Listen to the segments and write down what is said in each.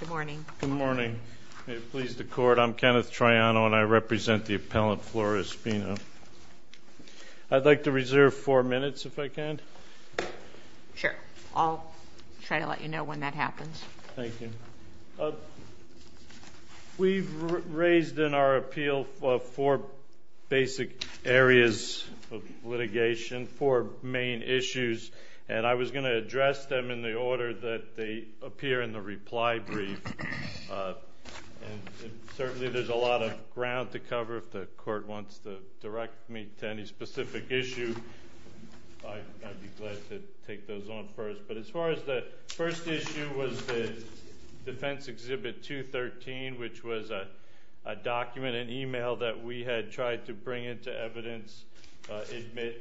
Good morning. May it please the court, I'm Kenneth Triano and I represent the appellant Flora Espino. I'd like to reserve four minutes if I can. Sure, I'll try to let you know when that happens. Thank you. We've raised in our appeal four basic areas of litigation, four main issues, and I was going to address them in the order that they appear in the reply brief, and certainly there's a lot of ground to cover if the court wants to direct me to any specific issue. I'd be glad to take those on first, but as far as the first issue was the Defense Exhibit 213, which was a document, an email that we had tried to bring into evidence, admit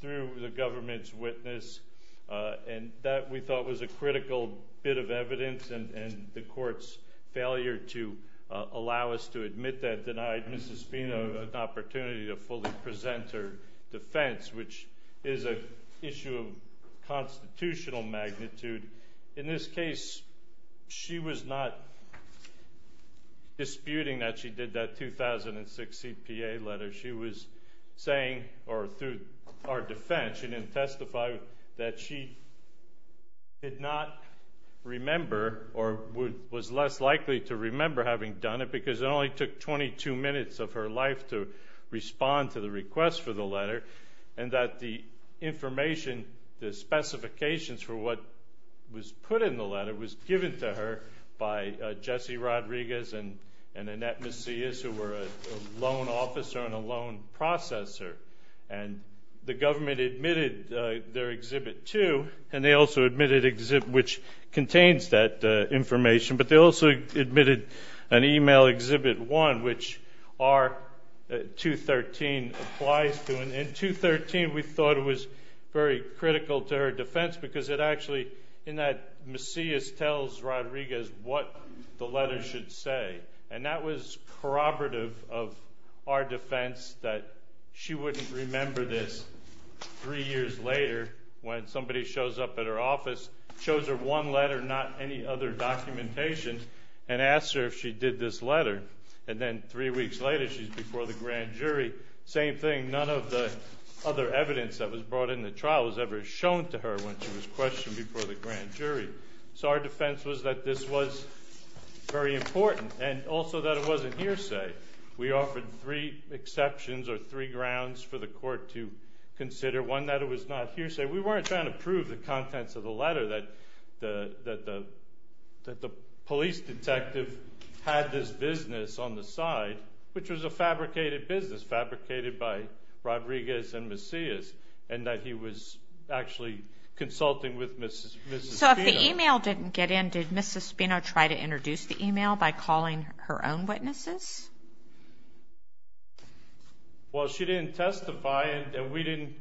through the government's witness, and that we thought was a critical bit of evidence, and the court's failure to allow us to admit that denied Mrs. Espino an opportunity to fully present her defense, which is an issue of constitutional magnitude. In this case, she was not disputing that she was saying, or through our defense, she didn't testify, that she did not remember or was less likely to remember having done it, because it only took 22 minutes of her life to respond to the request for the letter, and that the information, the specifications for what was put in the letter was given to her by Jesse Rodriguez and Annette Macias, who were a loan officer and a loan processor, and the government admitted their Exhibit 2, and they also admitted Exhibit, which contains that information, but they also admitted an email Exhibit 1, which R-213 applies to, and in 213 we thought it was very critical to her defense, because it was what she should say, and that was corroborative of our defense that she wouldn't remember this three years later, when somebody shows up at her office, shows her one letter, not any other documentation, and asks her if she did this letter, and then three weeks later she's before the grand jury. Same thing, none of the other evidence that was brought in the trial was ever shown to her when she was questioned before the court, and also that it wasn't hearsay. We offered three exceptions, or three grounds for the court to consider, one that it was not hearsay. We weren't trying to prove the contents of the letter, that the police detective had this business on the side, which was a fabricated business, fabricated by Rodriguez and Macias, and that he was actually consulting with Mrs. Spino. So if the email didn't get in, did Mrs. Spino try to introduce the email by calling her own witnesses? Well, she didn't testify, and we didn't...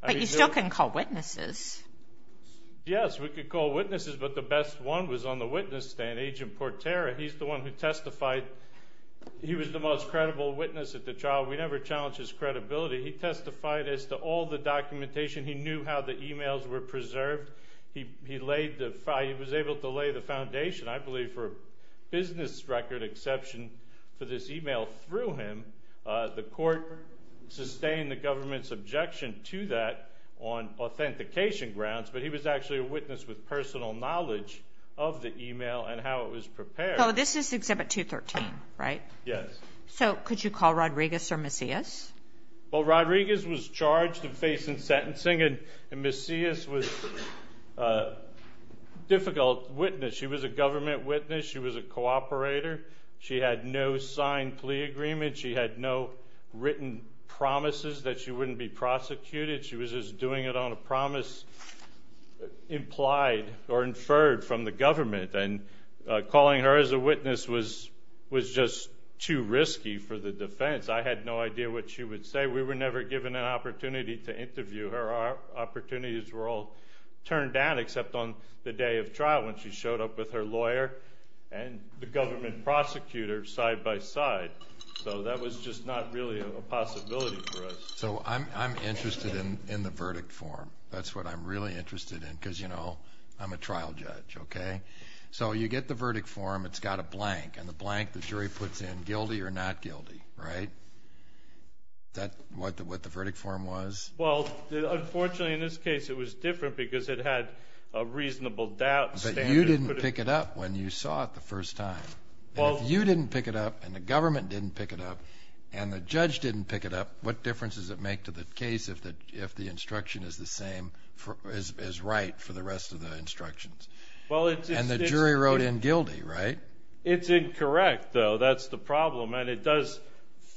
But you still couldn't call witnesses. Yes, we could call witnesses, but the best one was on the witness stand, Agent Portera. He's the one who testified. He was the most credible witness at the trial. We never challenged his credibility. He testified as to all the documentation. He knew how the he was able to lay the foundation, I believe, for a business record exception for this email through him. The court sustained the government's objection to that on authentication grounds, but he was actually a witness with personal knowledge of the email and how it was prepared. So this is Exhibit 213, right? Yes. So could you call Rodriguez or Macias? Well, Rodriguez was charged of face and sentencing, and Macias was a difficult witness. She was a government witness. She was a cooperator. She had no signed plea agreement. She had no written promises that she wouldn't be prosecuted. She was just doing it on a promise implied or inferred from the government, and calling her as a witness was just too risky for the defense. I had no idea what she would say. We were never given an opportunity to interview her. Our opportunities were all turned down except on the day of trial when she showed up with her lawyer and the government prosecutor side by side. So that was just not really a possibility for us. So I'm interested in the verdict form. That's what I'm really interested in because, you know, I'm a trial judge, okay? So you get the verdict form. It's got a blank. And the blank the jury puts in, guilty or not guilty, right? That's what the verdict form was? Well, unfortunately in this case it was different because it had a reasonable doubt standard. But you didn't pick it up when you saw it the first time. If you didn't pick it up and the government didn't pick it up and the judge didn't pick it up, what difference does it make to the case if the instruction is right for the rest of the instructions? And the jury wrote in guilty, right? It's incorrect, though. That's the problem. And it does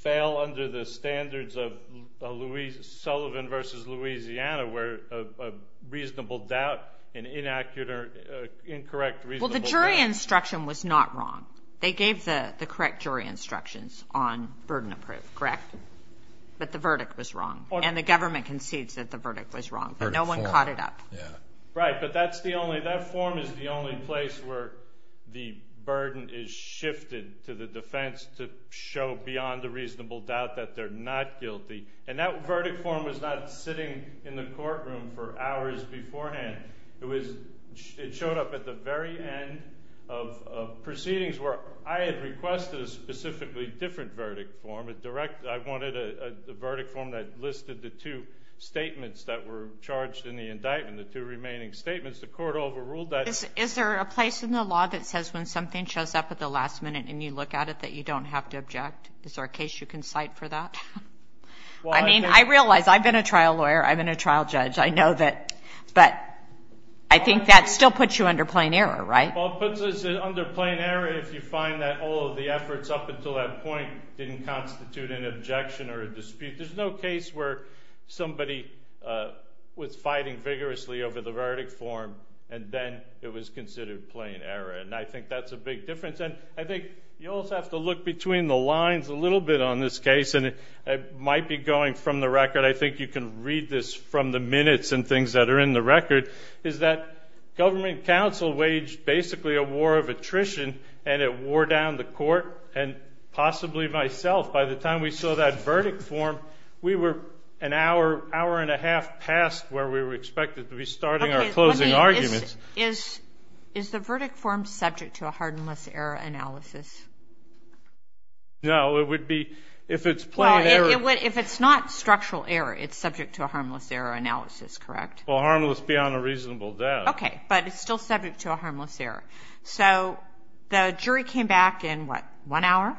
fail under the standards of Sullivan v. Louisiana where a reasonable doubt, an inaccurate or incorrect reasonable doubt. Well, the jury instruction was not wrong. They gave the correct jury instructions on burden of proof, correct? But the verdict was wrong, and the government concedes that the verdict was wrong. No one caught it up. Right, but that form is the only place where the burden is shifted to the defense to show beyond a reasonable doubt that they're not guilty. And that verdict form was not sitting in the courtroom for hours beforehand. It showed up at the very end of proceedings where I had requested a specifically different verdict form. I wanted a verdict form that listed the two statements that were charged in the indictment, the two remaining statements. The court overruled that. Is there a place in the law that says when something shows up at the last minute and you look at it that you don't have to object? Is there a case you can cite for that? I mean, I realize I've been a trial lawyer. I've been a trial judge. I know that. But I think that still puts you under plain error, right? Well, it puts us under plain error if you find that all of the efforts up until that point didn't constitute an objection or a dispute. There's no case where somebody was fighting vigorously over the verdict form and then it was considered plain error, and I think that's a big difference. And I think you also have to look between the lines a little bit on this case, and it might be going from the record. I think you can read this from the minutes and things that are in the record, is that government counsel waged basically a war of attrition and it wore down the court and possibly myself. By the time we saw that verdict form, we were an hour, hour and a half past where we were expected to be starting our closing arguments. Is the verdict form subject to a harmless error analysis? No, it would be if it's plain error. Well, if it's not structural error, it's subject to a harmless error analysis, correct? Well, harmless beyond a reasonable doubt. Okay, but it's still subject to a harmless error. So the jury came back in, what, one hour?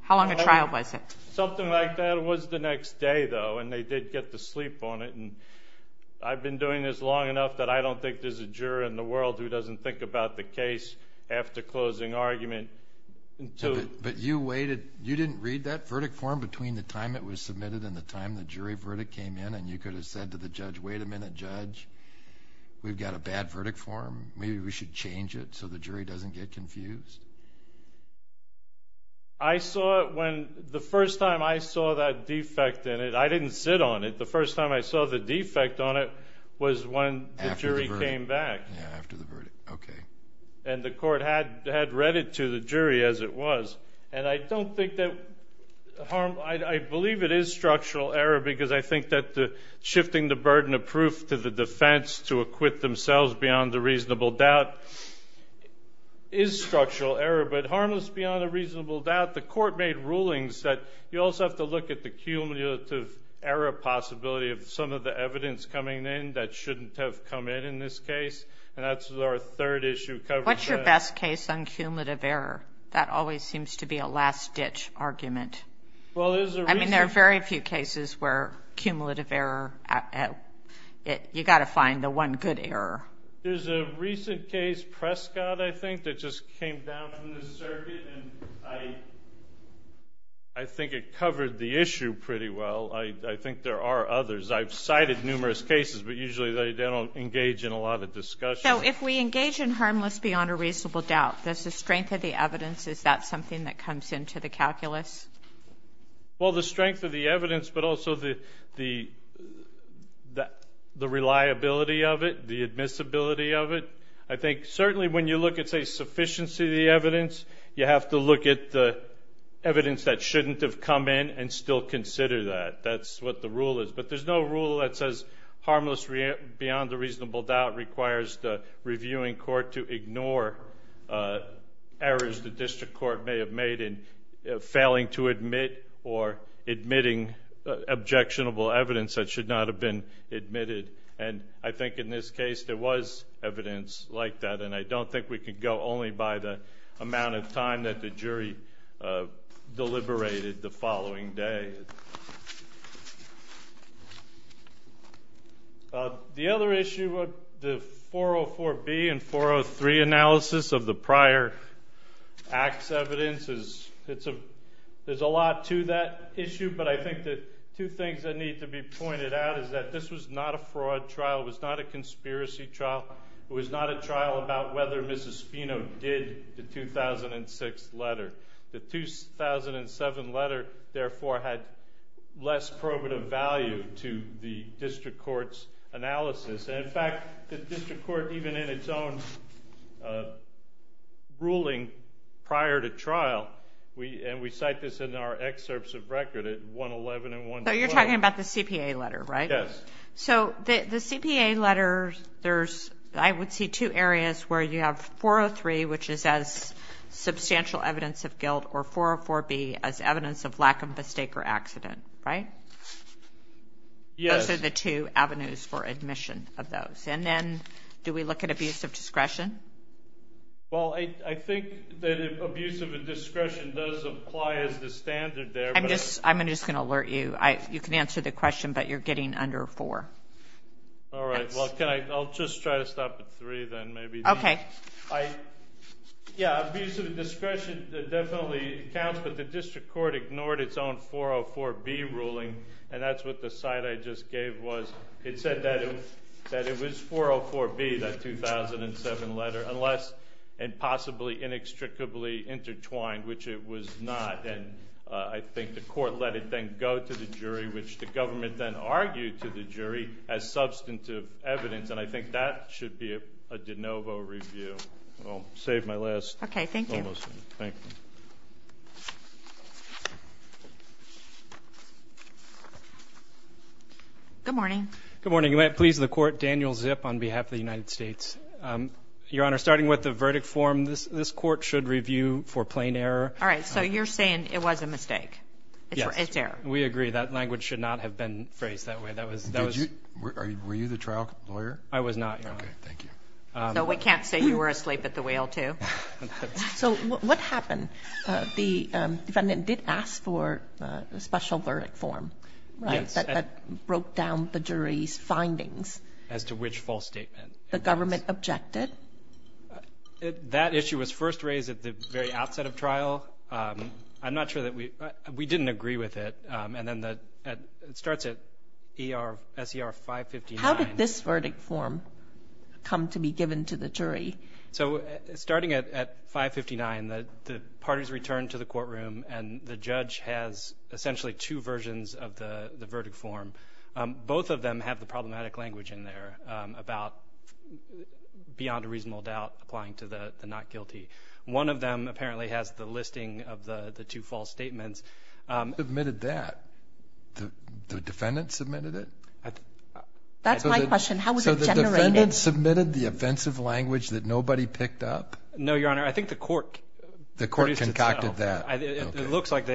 How long a trial was it? Something like that. It was the next day, though, and they did get to sleep on it. And I've been doing this long enough that I don't think there's a juror in the world who doesn't think about the case after closing argument. But you waited. You didn't read that verdict form between the time it was submitted and the time the jury verdict came in, and you could have said to the judge, wait a minute, judge, we've got a bad verdict form. Maybe we should change it so the jury doesn't get confused. I saw it when the first time I saw that defect in it. I didn't sit on it. The first time I saw the defect on it was when the jury came back. Yeah, after the verdict. Okay. And the court had read it to the jury as it was. And I don't think that harm ñ I believe it is structural error, because I think that shifting the burden of proof to the defense to acquit themselves beyond a reasonable doubt is structural error. But harmless beyond a reasonable doubt, the court made rulings that you also have to look at the cumulative error possibility of some of the evidence coming in that shouldn't have come in in this case. And that's our third issue. What's your best case on cumulative error? That always seems to be a last-ditch argument. I mean, there are very few cases where cumulative error, you've got to find the one good error. There's a recent case, Prescott, I think, that just came down from the circuit, and I think it covered the issue pretty well. I think there are others. I've cited numerous cases, but usually they don't engage in a lot of discussion. So if we engage in harmless beyond a reasonable doubt, does the strength of the evidence, is that something that comes into the calculus? Well, the strength of the evidence, but also the reliability of it, the admissibility of it. I think certainly when you look at, say, sufficiency of the evidence, you have to look at the evidence that shouldn't have come in and still consider that. That's what the rule is. But there's no rule that says harmless beyond a reasonable doubt requires the reviewing court to ignore errors the district court may have made in failing to admit or admitting objectionable evidence that should not have been admitted. And I think in this case there was evidence like that, and I don't think we can go only by the amount of time that the jury deliberated the following day. The other issue with the 404B and 403 analysis of the prior act's evidence is there's a lot to that issue, but I think the two things that need to be pointed out is that this was not a fraud trial. It was not a conspiracy trial. It was not a trial about whether Mrs. Spino did the 2006 letter. The 2007 letter, therefore, had less probative value to the district court's analysis. And, in fact, the district court, even in its own ruling prior to trial, and we cite this in our excerpts of record at 111 and 112. So you're talking about the CPA letter, right? Yes. So the CPA letter, I would see two areas where you have 403, which is as substantial evidence of guilt, or 404B as evidence of lack of mistake or accident, right? Yes. Those are the two avenues for admission of those. And then do we look at abuse of discretion? Well, I think that abuse of discretion does apply as the standard there. I'm just going to alert you. You can answer the question, but you're getting under four. All right. Well, I'll just try to stop at three, then, maybe. Okay. Yeah, abuse of discretion definitely counts, but the district court ignored its own 404B ruling, and that's what the cite I just gave was. It said that it was 404B, that 2007 letter, unless and possibly inextricably intertwined, which it was not. And I think the court let it then go to the jury, which the government then argued to the jury as substantive evidence. And I think that should be a de novo review. I'll save my last one. Okay, thank you. Thank you. Good morning. Good morning. You may have pleased the court, Daniel Zipp on behalf of the United States. Your Honor, starting with the verdict form, this court should review for plain error. All right. So you're saying it was a mistake. Yes. It's error. We agree. That language should not have been phrased that way. Were you the trial lawyer? I was not, Your Honor. Okay. Thank you. So we can't say you were asleep at the wheel, too. So what happened? The defendant did ask for a special verdict form, right, that broke down the jury's findings. As to which false statement? The government objected. That issue was first raised at the very outset of trial. I'm not sure that we didn't agree with it. And then it starts at S.E.R. 559. How did this verdict form come to be given to the jury? So starting at 559, the parties returned to the courtroom, and the judge has essentially two versions of the verdict form. Both of them have the problematic language in there about, beyond a reasonable doubt, applying to the not guilty. One of them apparently has the listing of the two false statements. Who submitted that? The defendant submitted it? That's my question. How was it generated? So the defendant submitted the offensive language that nobody picked up? No, Your Honor. I think the court produced itself. The court concocted that. Okay. It looks like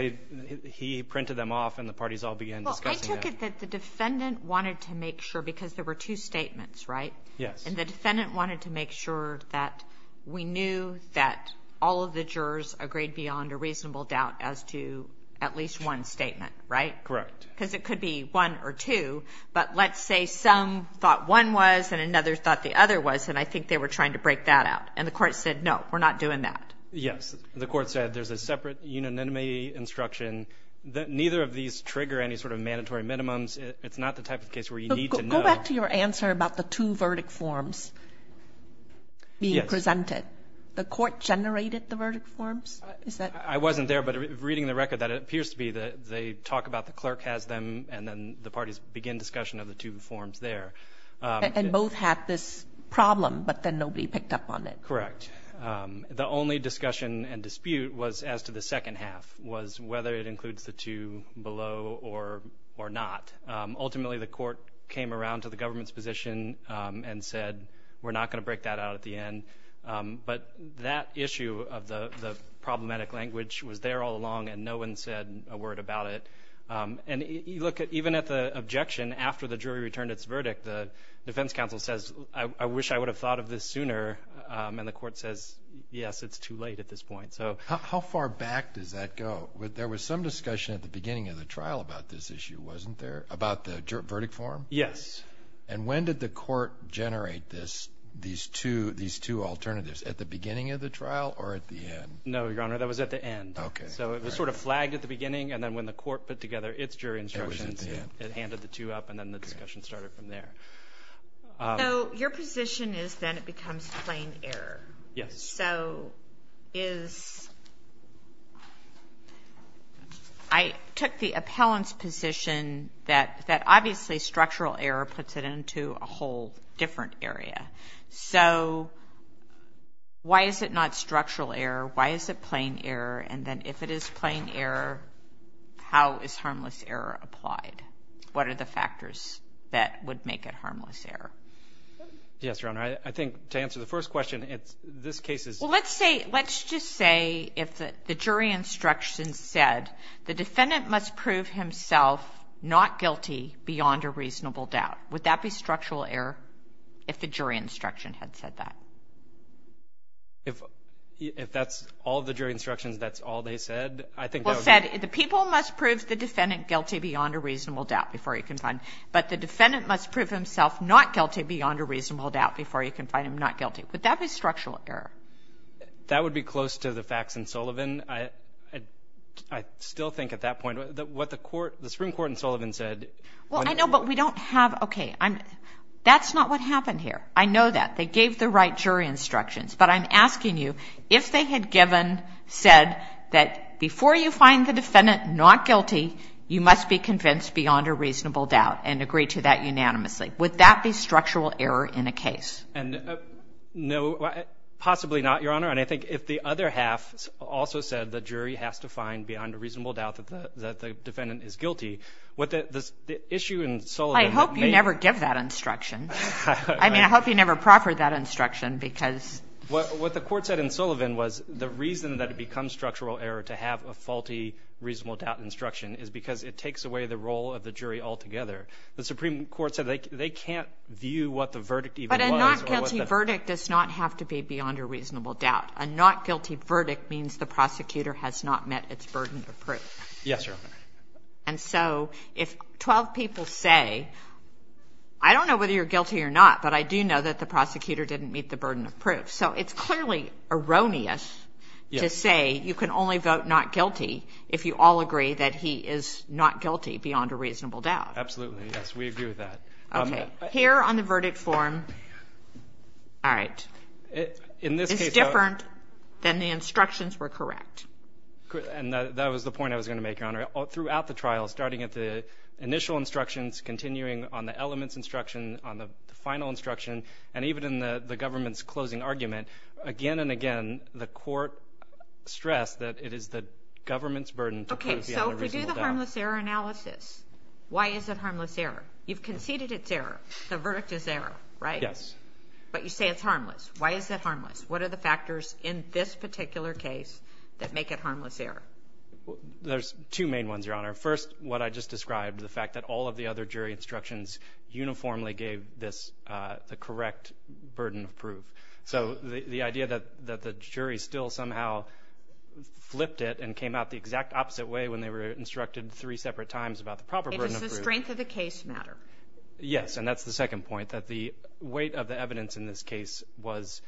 he printed them off and the parties all began discussing that. I took it that the defendant wanted to make sure, because there were two statements, right? Yes. And the defendant wanted to make sure that we knew that all of the jurors agreed beyond a reasonable doubt as to at least one statement, right? Correct. Because it could be one or two. But let's say some thought one was and another thought the other was, and I think they were trying to break that out. And the court said, no, we're not doing that. Yes. The court said there's a separate unanimity instruction that neither of these trigger any sort of mandatory minimums. It's not the type of case where you need to know. Go back to your answer about the two verdict forms being presented. The court generated the verdict forms? I wasn't there. But reading the record, that appears to be that they talk about the clerk has them and then the parties begin discussion of the two forms there. And both had this problem, but then nobody picked up on it. Correct. The only discussion and dispute was as to the second half, was whether it includes the two below or not. Ultimately, the court came around to the government's position and said, we're not going to break that out at the end. But that issue of the problematic language was there all along and no one said a word about it. And even at the objection, after the jury returned its verdict, the defense counsel says, I wish I would have thought of this sooner. And the court says, yes, it's too late at this point. How far back does that go? There was some discussion at the beginning of the trial about this issue, wasn't there, about the verdict form? Yes. And when did the court generate these two alternatives, at the beginning of the trial or at the end? No, Your Honor, that was at the end. Okay. So it was sort of flagged at the beginning, and then when the court put together its jury instructions, it handed the two up and then the discussion started from there. So your position is that it becomes plain error. Yes. So is – I took the appellant's position that obviously structural error puts it into a whole different area. So why is it not structural error? Why is it plain error? And then if it is plain error, how is harmless error applied? What are the factors that would make it harmless error? Yes, Your Honor, I think to answer the first question, this case is – Well, let's say – let's just say if the jury instructions said the defendant must prove himself not guilty beyond a reasonable doubt. Would that be structural error if the jury instruction had said that? If that's all the jury instructions, that's all they said? I think that would be – Well, it said the people must prove the defendant guilty beyond a reasonable doubt before he can find – but the defendant must prove himself not guilty beyond a reasonable doubt before he can find him not guilty. Would that be structural error? That would be close to the facts in Sullivan. I still think at that point what the Supreme Court in Sullivan said – Well, I know, but we don't have – okay. That's not what happened here. I know that. They gave the right jury instructions. But I'm asking you, if they had given – said that before you find the defendant not guilty, you must be convinced beyond a reasonable doubt and agree to that unanimously, would that be structural error in a case? And no – possibly not, Your Honor. And I think if the other half also said the jury has to find beyond a reasonable doubt that the defendant is guilty, what the issue in Sullivan – I hope you never give that instruction. I mean, I hope you never proffer that instruction because – What the Court said in Sullivan was the reason that it becomes structural error to have a faulty reasonable doubt instruction is because it takes away the role of the jury altogether. The Supreme Court said they can't view what the verdict even was. But a not guilty verdict does not have to be beyond a reasonable doubt. A not guilty verdict means the prosecutor has not met its burden of proof. Yes, Your Honor. And so if 12 people say, I don't know whether you're guilty or not, but I do know that the prosecutor didn't meet the burden of proof. So it's clearly erroneous to say you can only vote not guilty if you all agree that he is not guilty beyond a reasonable doubt. Absolutely, yes. We agree with that. Okay. Here on the verdict form – all right. In this case – It's different than the instructions were correct. And that was the point I was going to make, Your Honor. Throughout the trial, starting at the initial instructions, continuing on the elements instruction, on the final instruction, and even in the government's closing argument, again and again, the Court stressed that it is the government's burden to prove beyond a reasonable doubt. Okay. So if we do the harmless error analysis, why is it harmless error? You've conceded it's error. The verdict is error, right? Yes. But you say it's harmless. Why is it harmless? What are the factors in this particular case that make it harmless error? There's two main ones, Your Honor. First, what I just described, the fact that all of the other jury instructions uniformly gave this the correct burden of proof. So the idea that the jury still somehow flipped it and came out the exact opposite way when they were instructed three separate times about the proper burden of proof Why does the strength of the case matter? Yes. And that's the second point, that the weight of the evidence in this case was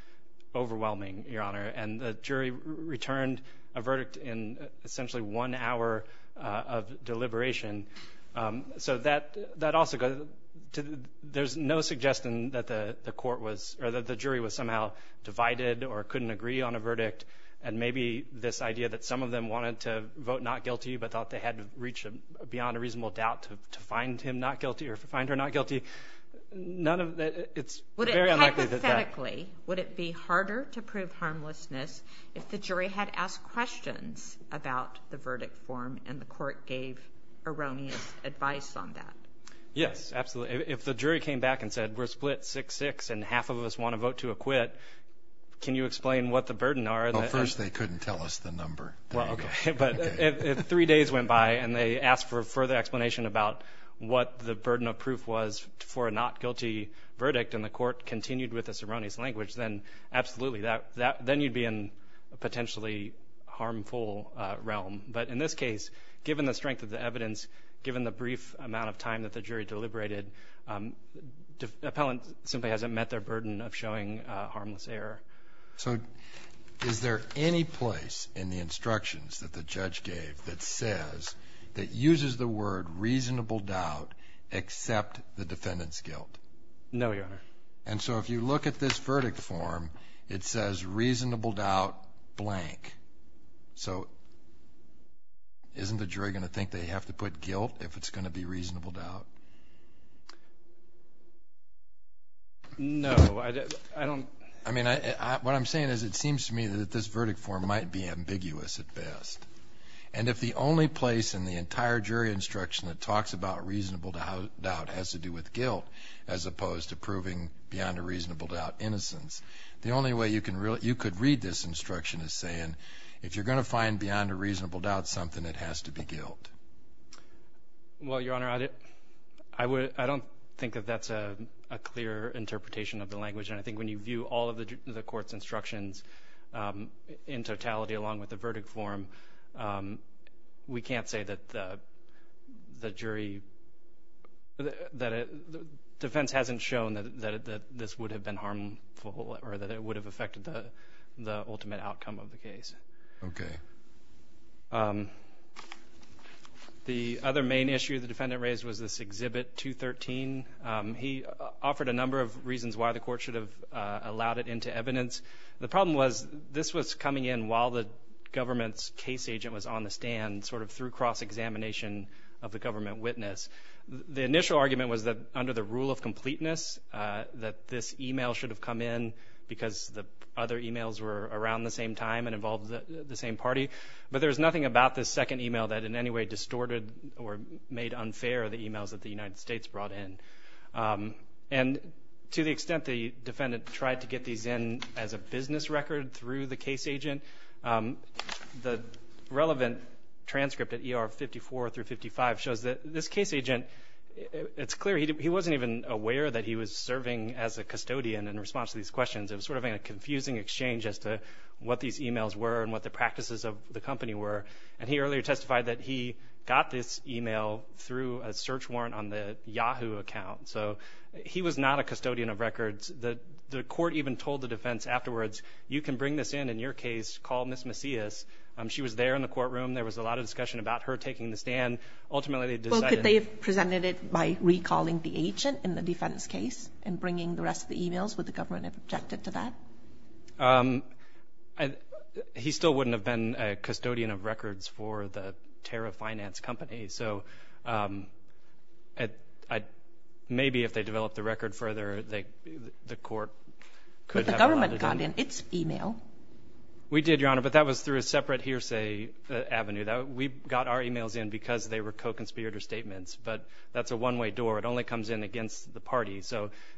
overwhelming, Your Honor. And the jury returned a verdict in essentially one hour of deliberation. So that also goes to there's no suggestion that the court was or that the jury was somehow divided or couldn't agree on a verdict and maybe this idea that some of them wanted to vote not guilty but thought they had to reach beyond a reasonable doubt to find him not guilty or find her not guilty. None of that. It's very unlikely. Hypothetically, would it be harder to prove harmlessness if the jury had asked questions about the verdict form and the court gave erroneous advice on that? Yes, absolutely. If the jury came back and said we're split 6-6 and half of us want to vote to acquit, can you explain what the burden are? Well, first they couldn't tell us the number. Well, okay. But if three days went by and they asked for a further explanation about what the burden of proof was for a not guilty verdict and the court continued with this erroneous language, then absolutely, then you'd be in a potentially harmful realm. But in this case, given the strength of the evidence, given the brief amount of time that the jury deliberated, the appellant simply hasn't met their burden of showing harmless error. So is there any place in the instructions that the judge gave that says, that uses the word reasonable doubt except the defendant's guilt? No, Your Honor. And so if you look at this verdict form, it says reasonable doubt blank. So isn't the jury going to think they have to put guilt if it's going to be reasonable doubt? No. I mean, what I'm saying is it seems to me that this verdict form might be ambiguous at best. And if the only place in the entire jury instruction that talks about reasonable doubt has to do with guilt as opposed to proving beyond a reasonable doubt innocence, the only way you could read this instruction is saying if you're going to find beyond a reasonable doubt something, it has to be guilt. Well, Your Honor, I don't think that that's a clear interpretation of the language. And I think when you view all of the court's instructions in totality along with the verdict form, we can't say that the defense hasn't shown that this would have been harmful or that it would have affected the ultimate outcome of the case. Okay. Thank you. The other main issue the defendant raised was this Exhibit 213. He offered a number of reasons why the court should have allowed it into evidence. The problem was this was coming in while the government's case agent was on the stand, sort of through cross-examination of the government witness. The initial argument was that under the rule of completeness that this email should have come in because the other emails were around the same time and involved the same party. But there was nothing about this second email that in any way distorted or made unfair the emails that the United States brought in. And to the extent the defendant tried to get these in as a business record through the case agent, the relevant transcript at ER 54 through 55 shows that this case agent, it's clear he wasn't even aware that he was serving as a custodian in response to these questions. It was sort of a confusing exchange as to what these emails were and what the practices of the company were. And he earlier testified that he got this email through a search warrant on the Yahoo account. So he was not a custodian of records. The court even told the defense afterwards, you can bring this in in your case, call Ms. Macias. She was there in the courtroom. There was a lot of discussion about her taking the stand. Could they have presented it by recalling the agent in the defense case and bringing the rest of the emails? Would the government have objected to that? He still wouldn't have been a custodian of records for the Terra Finance Company. So maybe if they developed the record further, the court could have allowed it. But the government got in its email. We did, Your Honor, but that was through a separate hearsay avenue. We got our emails in because they were co-conspirator statements. But that's a one-way door. It only comes in against the party.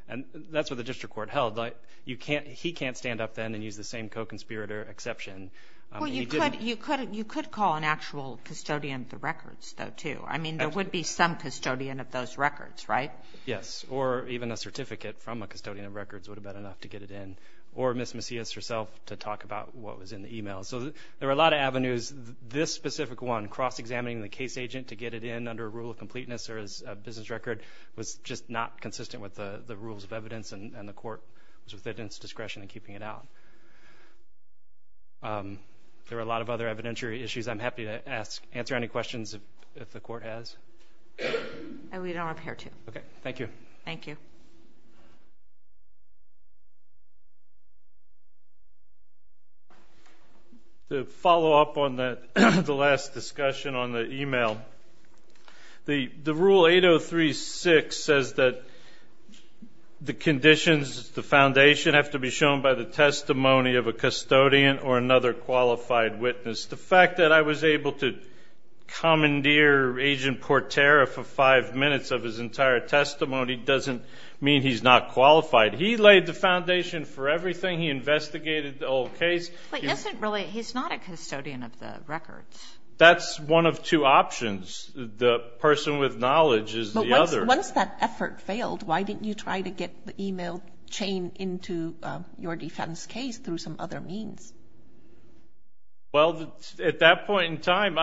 And that's what the district court held. He can't stand up then and use the same co-conspirator exception. Well, you could call an actual custodian of the records, though, too. I mean, there would be some custodian of those records, right? Yes, or even a certificate from a custodian of records would have been enough to get it in. Or Ms. Macias herself to talk about what was in the email. So there were a lot of avenues. This specific one, cross-examining the case agent to get it in under a rule of completeness or as a business record, was just not consistent with the rules of evidence, and the court was within its discretion in keeping it out. There were a lot of other evidentiary issues I'm happy to answer any questions if the court has. We don't appear to. Okay, thank you. Thank you. Thank you. To follow up on the last discussion on the email, the Rule 803-6 says that the conditions, the foundation, have to be shown by the testimony of a custodian or another qualified witness. The fact that I was able to commandeer Agent Portera for five minutes of his entire testimony doesn't mean he's not qualified. He laid the foundation for everything. He investigated the whole case. But he's not a custodian of the records. That's one of two options. The person with knowledge is the other. But once that effort failed, why didn't you try to get the email chain into your defense case through some other means? Well, at that point in time,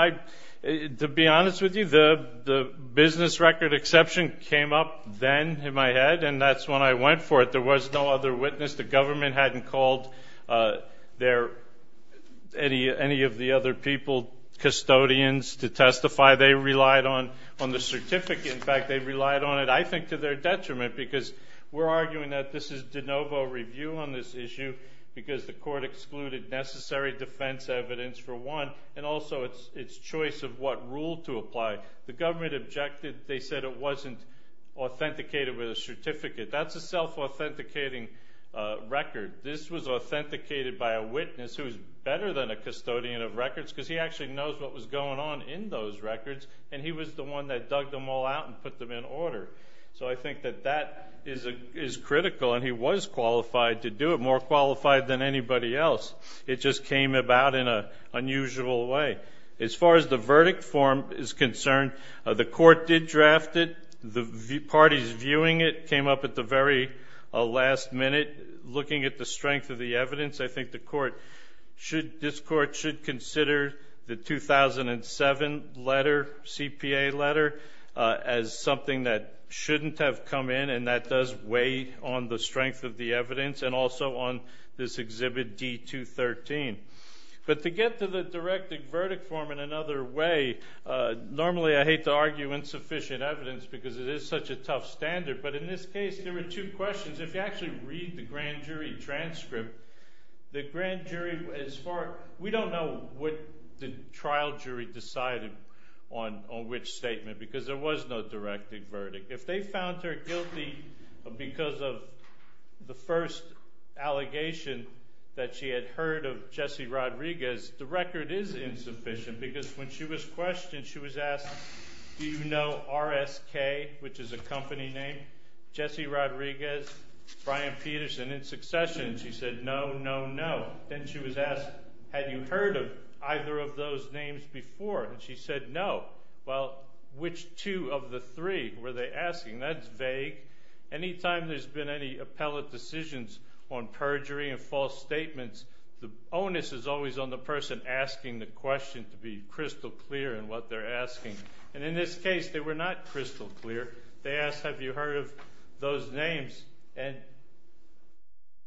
to be honest with you, the business record exception came up then in my head, and that's when I went for it. There was no other witness. The government hadn't called any of the other people custodians to testify. They relied on the certificate. In fact, they relied on it, I think, to their detriment, because we're arguing that this is de novo review on this issue because the court excluded necessary defense evidence for one and also its choice of what rule to apply. The government objected. They said it wasn't authenticated with a certificate. That's a self-authenticating record. This was authenticated by a witness who is better than a custodian of records because he actually knows what was going on in those records, and he was the one that dug them all out and put them in order. So I think that that is critical, and he was qualified to do it, more qualified than anybody else. It just came about in an unusual way. As far as the verdict form is concerned, the court did draft it. The parties viewing it came up at the very last minute. Looking at the strength of the evidence, I think this court should consider the 2007 letter, CPA letter, as something that shouldn't have come in and that does weigh on the strength of the evidence and also on this Exhibit D213. But to get to the direct verdict form in another way, normally I hate to argue insufficient evidence because it is such a tough standard, but in this case there were two questions. If you actually read the grand jury transcript, the grand jury, we don't know what the trial jury decided on which statement because there was no directed verdict. If they found her guilty because of the first allegation that she had heard of Jesse Rodriguez, the record is insufficient because when she was questioned, she was asked, do you know RSK, which is a company named? Jesse Rodriguez, Brian Peterson, in succession, she said no, no, no. Then she was asked, have you heard of either of those names before? And she said no. Well, which two of the three were they asking? That's vague. Anytime there's been any appellate decisions on perjury and false statements, the onus is always on the person asking the question to be crystal clear in what they're asking. And in this case, they were not crystal clear. They asked, have you heard of those names? And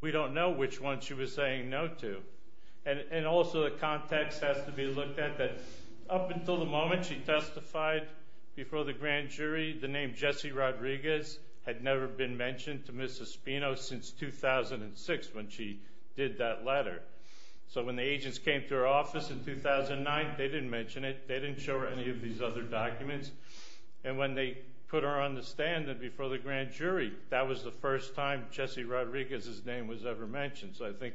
we don't know which one she was saying no to. And also the context has to be looked at. Up until the moment she testified before the grand jury, the name Jesse Rodriguez had never been mentioned to Mrs. Spino since 2006 when she did that letter. So when the agents came to her office in 2009, they didn't mention it. They didn't show her any of these other documents. And when they put her on the stand before the grand jury, that was the first time Jesse Rodriguez's name was ever mentioned. So I think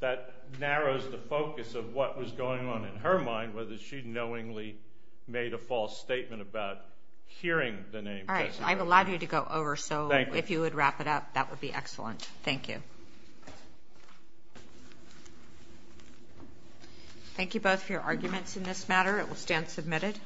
that narrows the focus of what was going on in her mind, whether she knowingly made a false statement about hearing the name Jesse. All right. I've allowed you to go over. So if you would wrap it up, that would be excellent. Thank you. Thank you both for your arguments in this matter. It will stand submitted.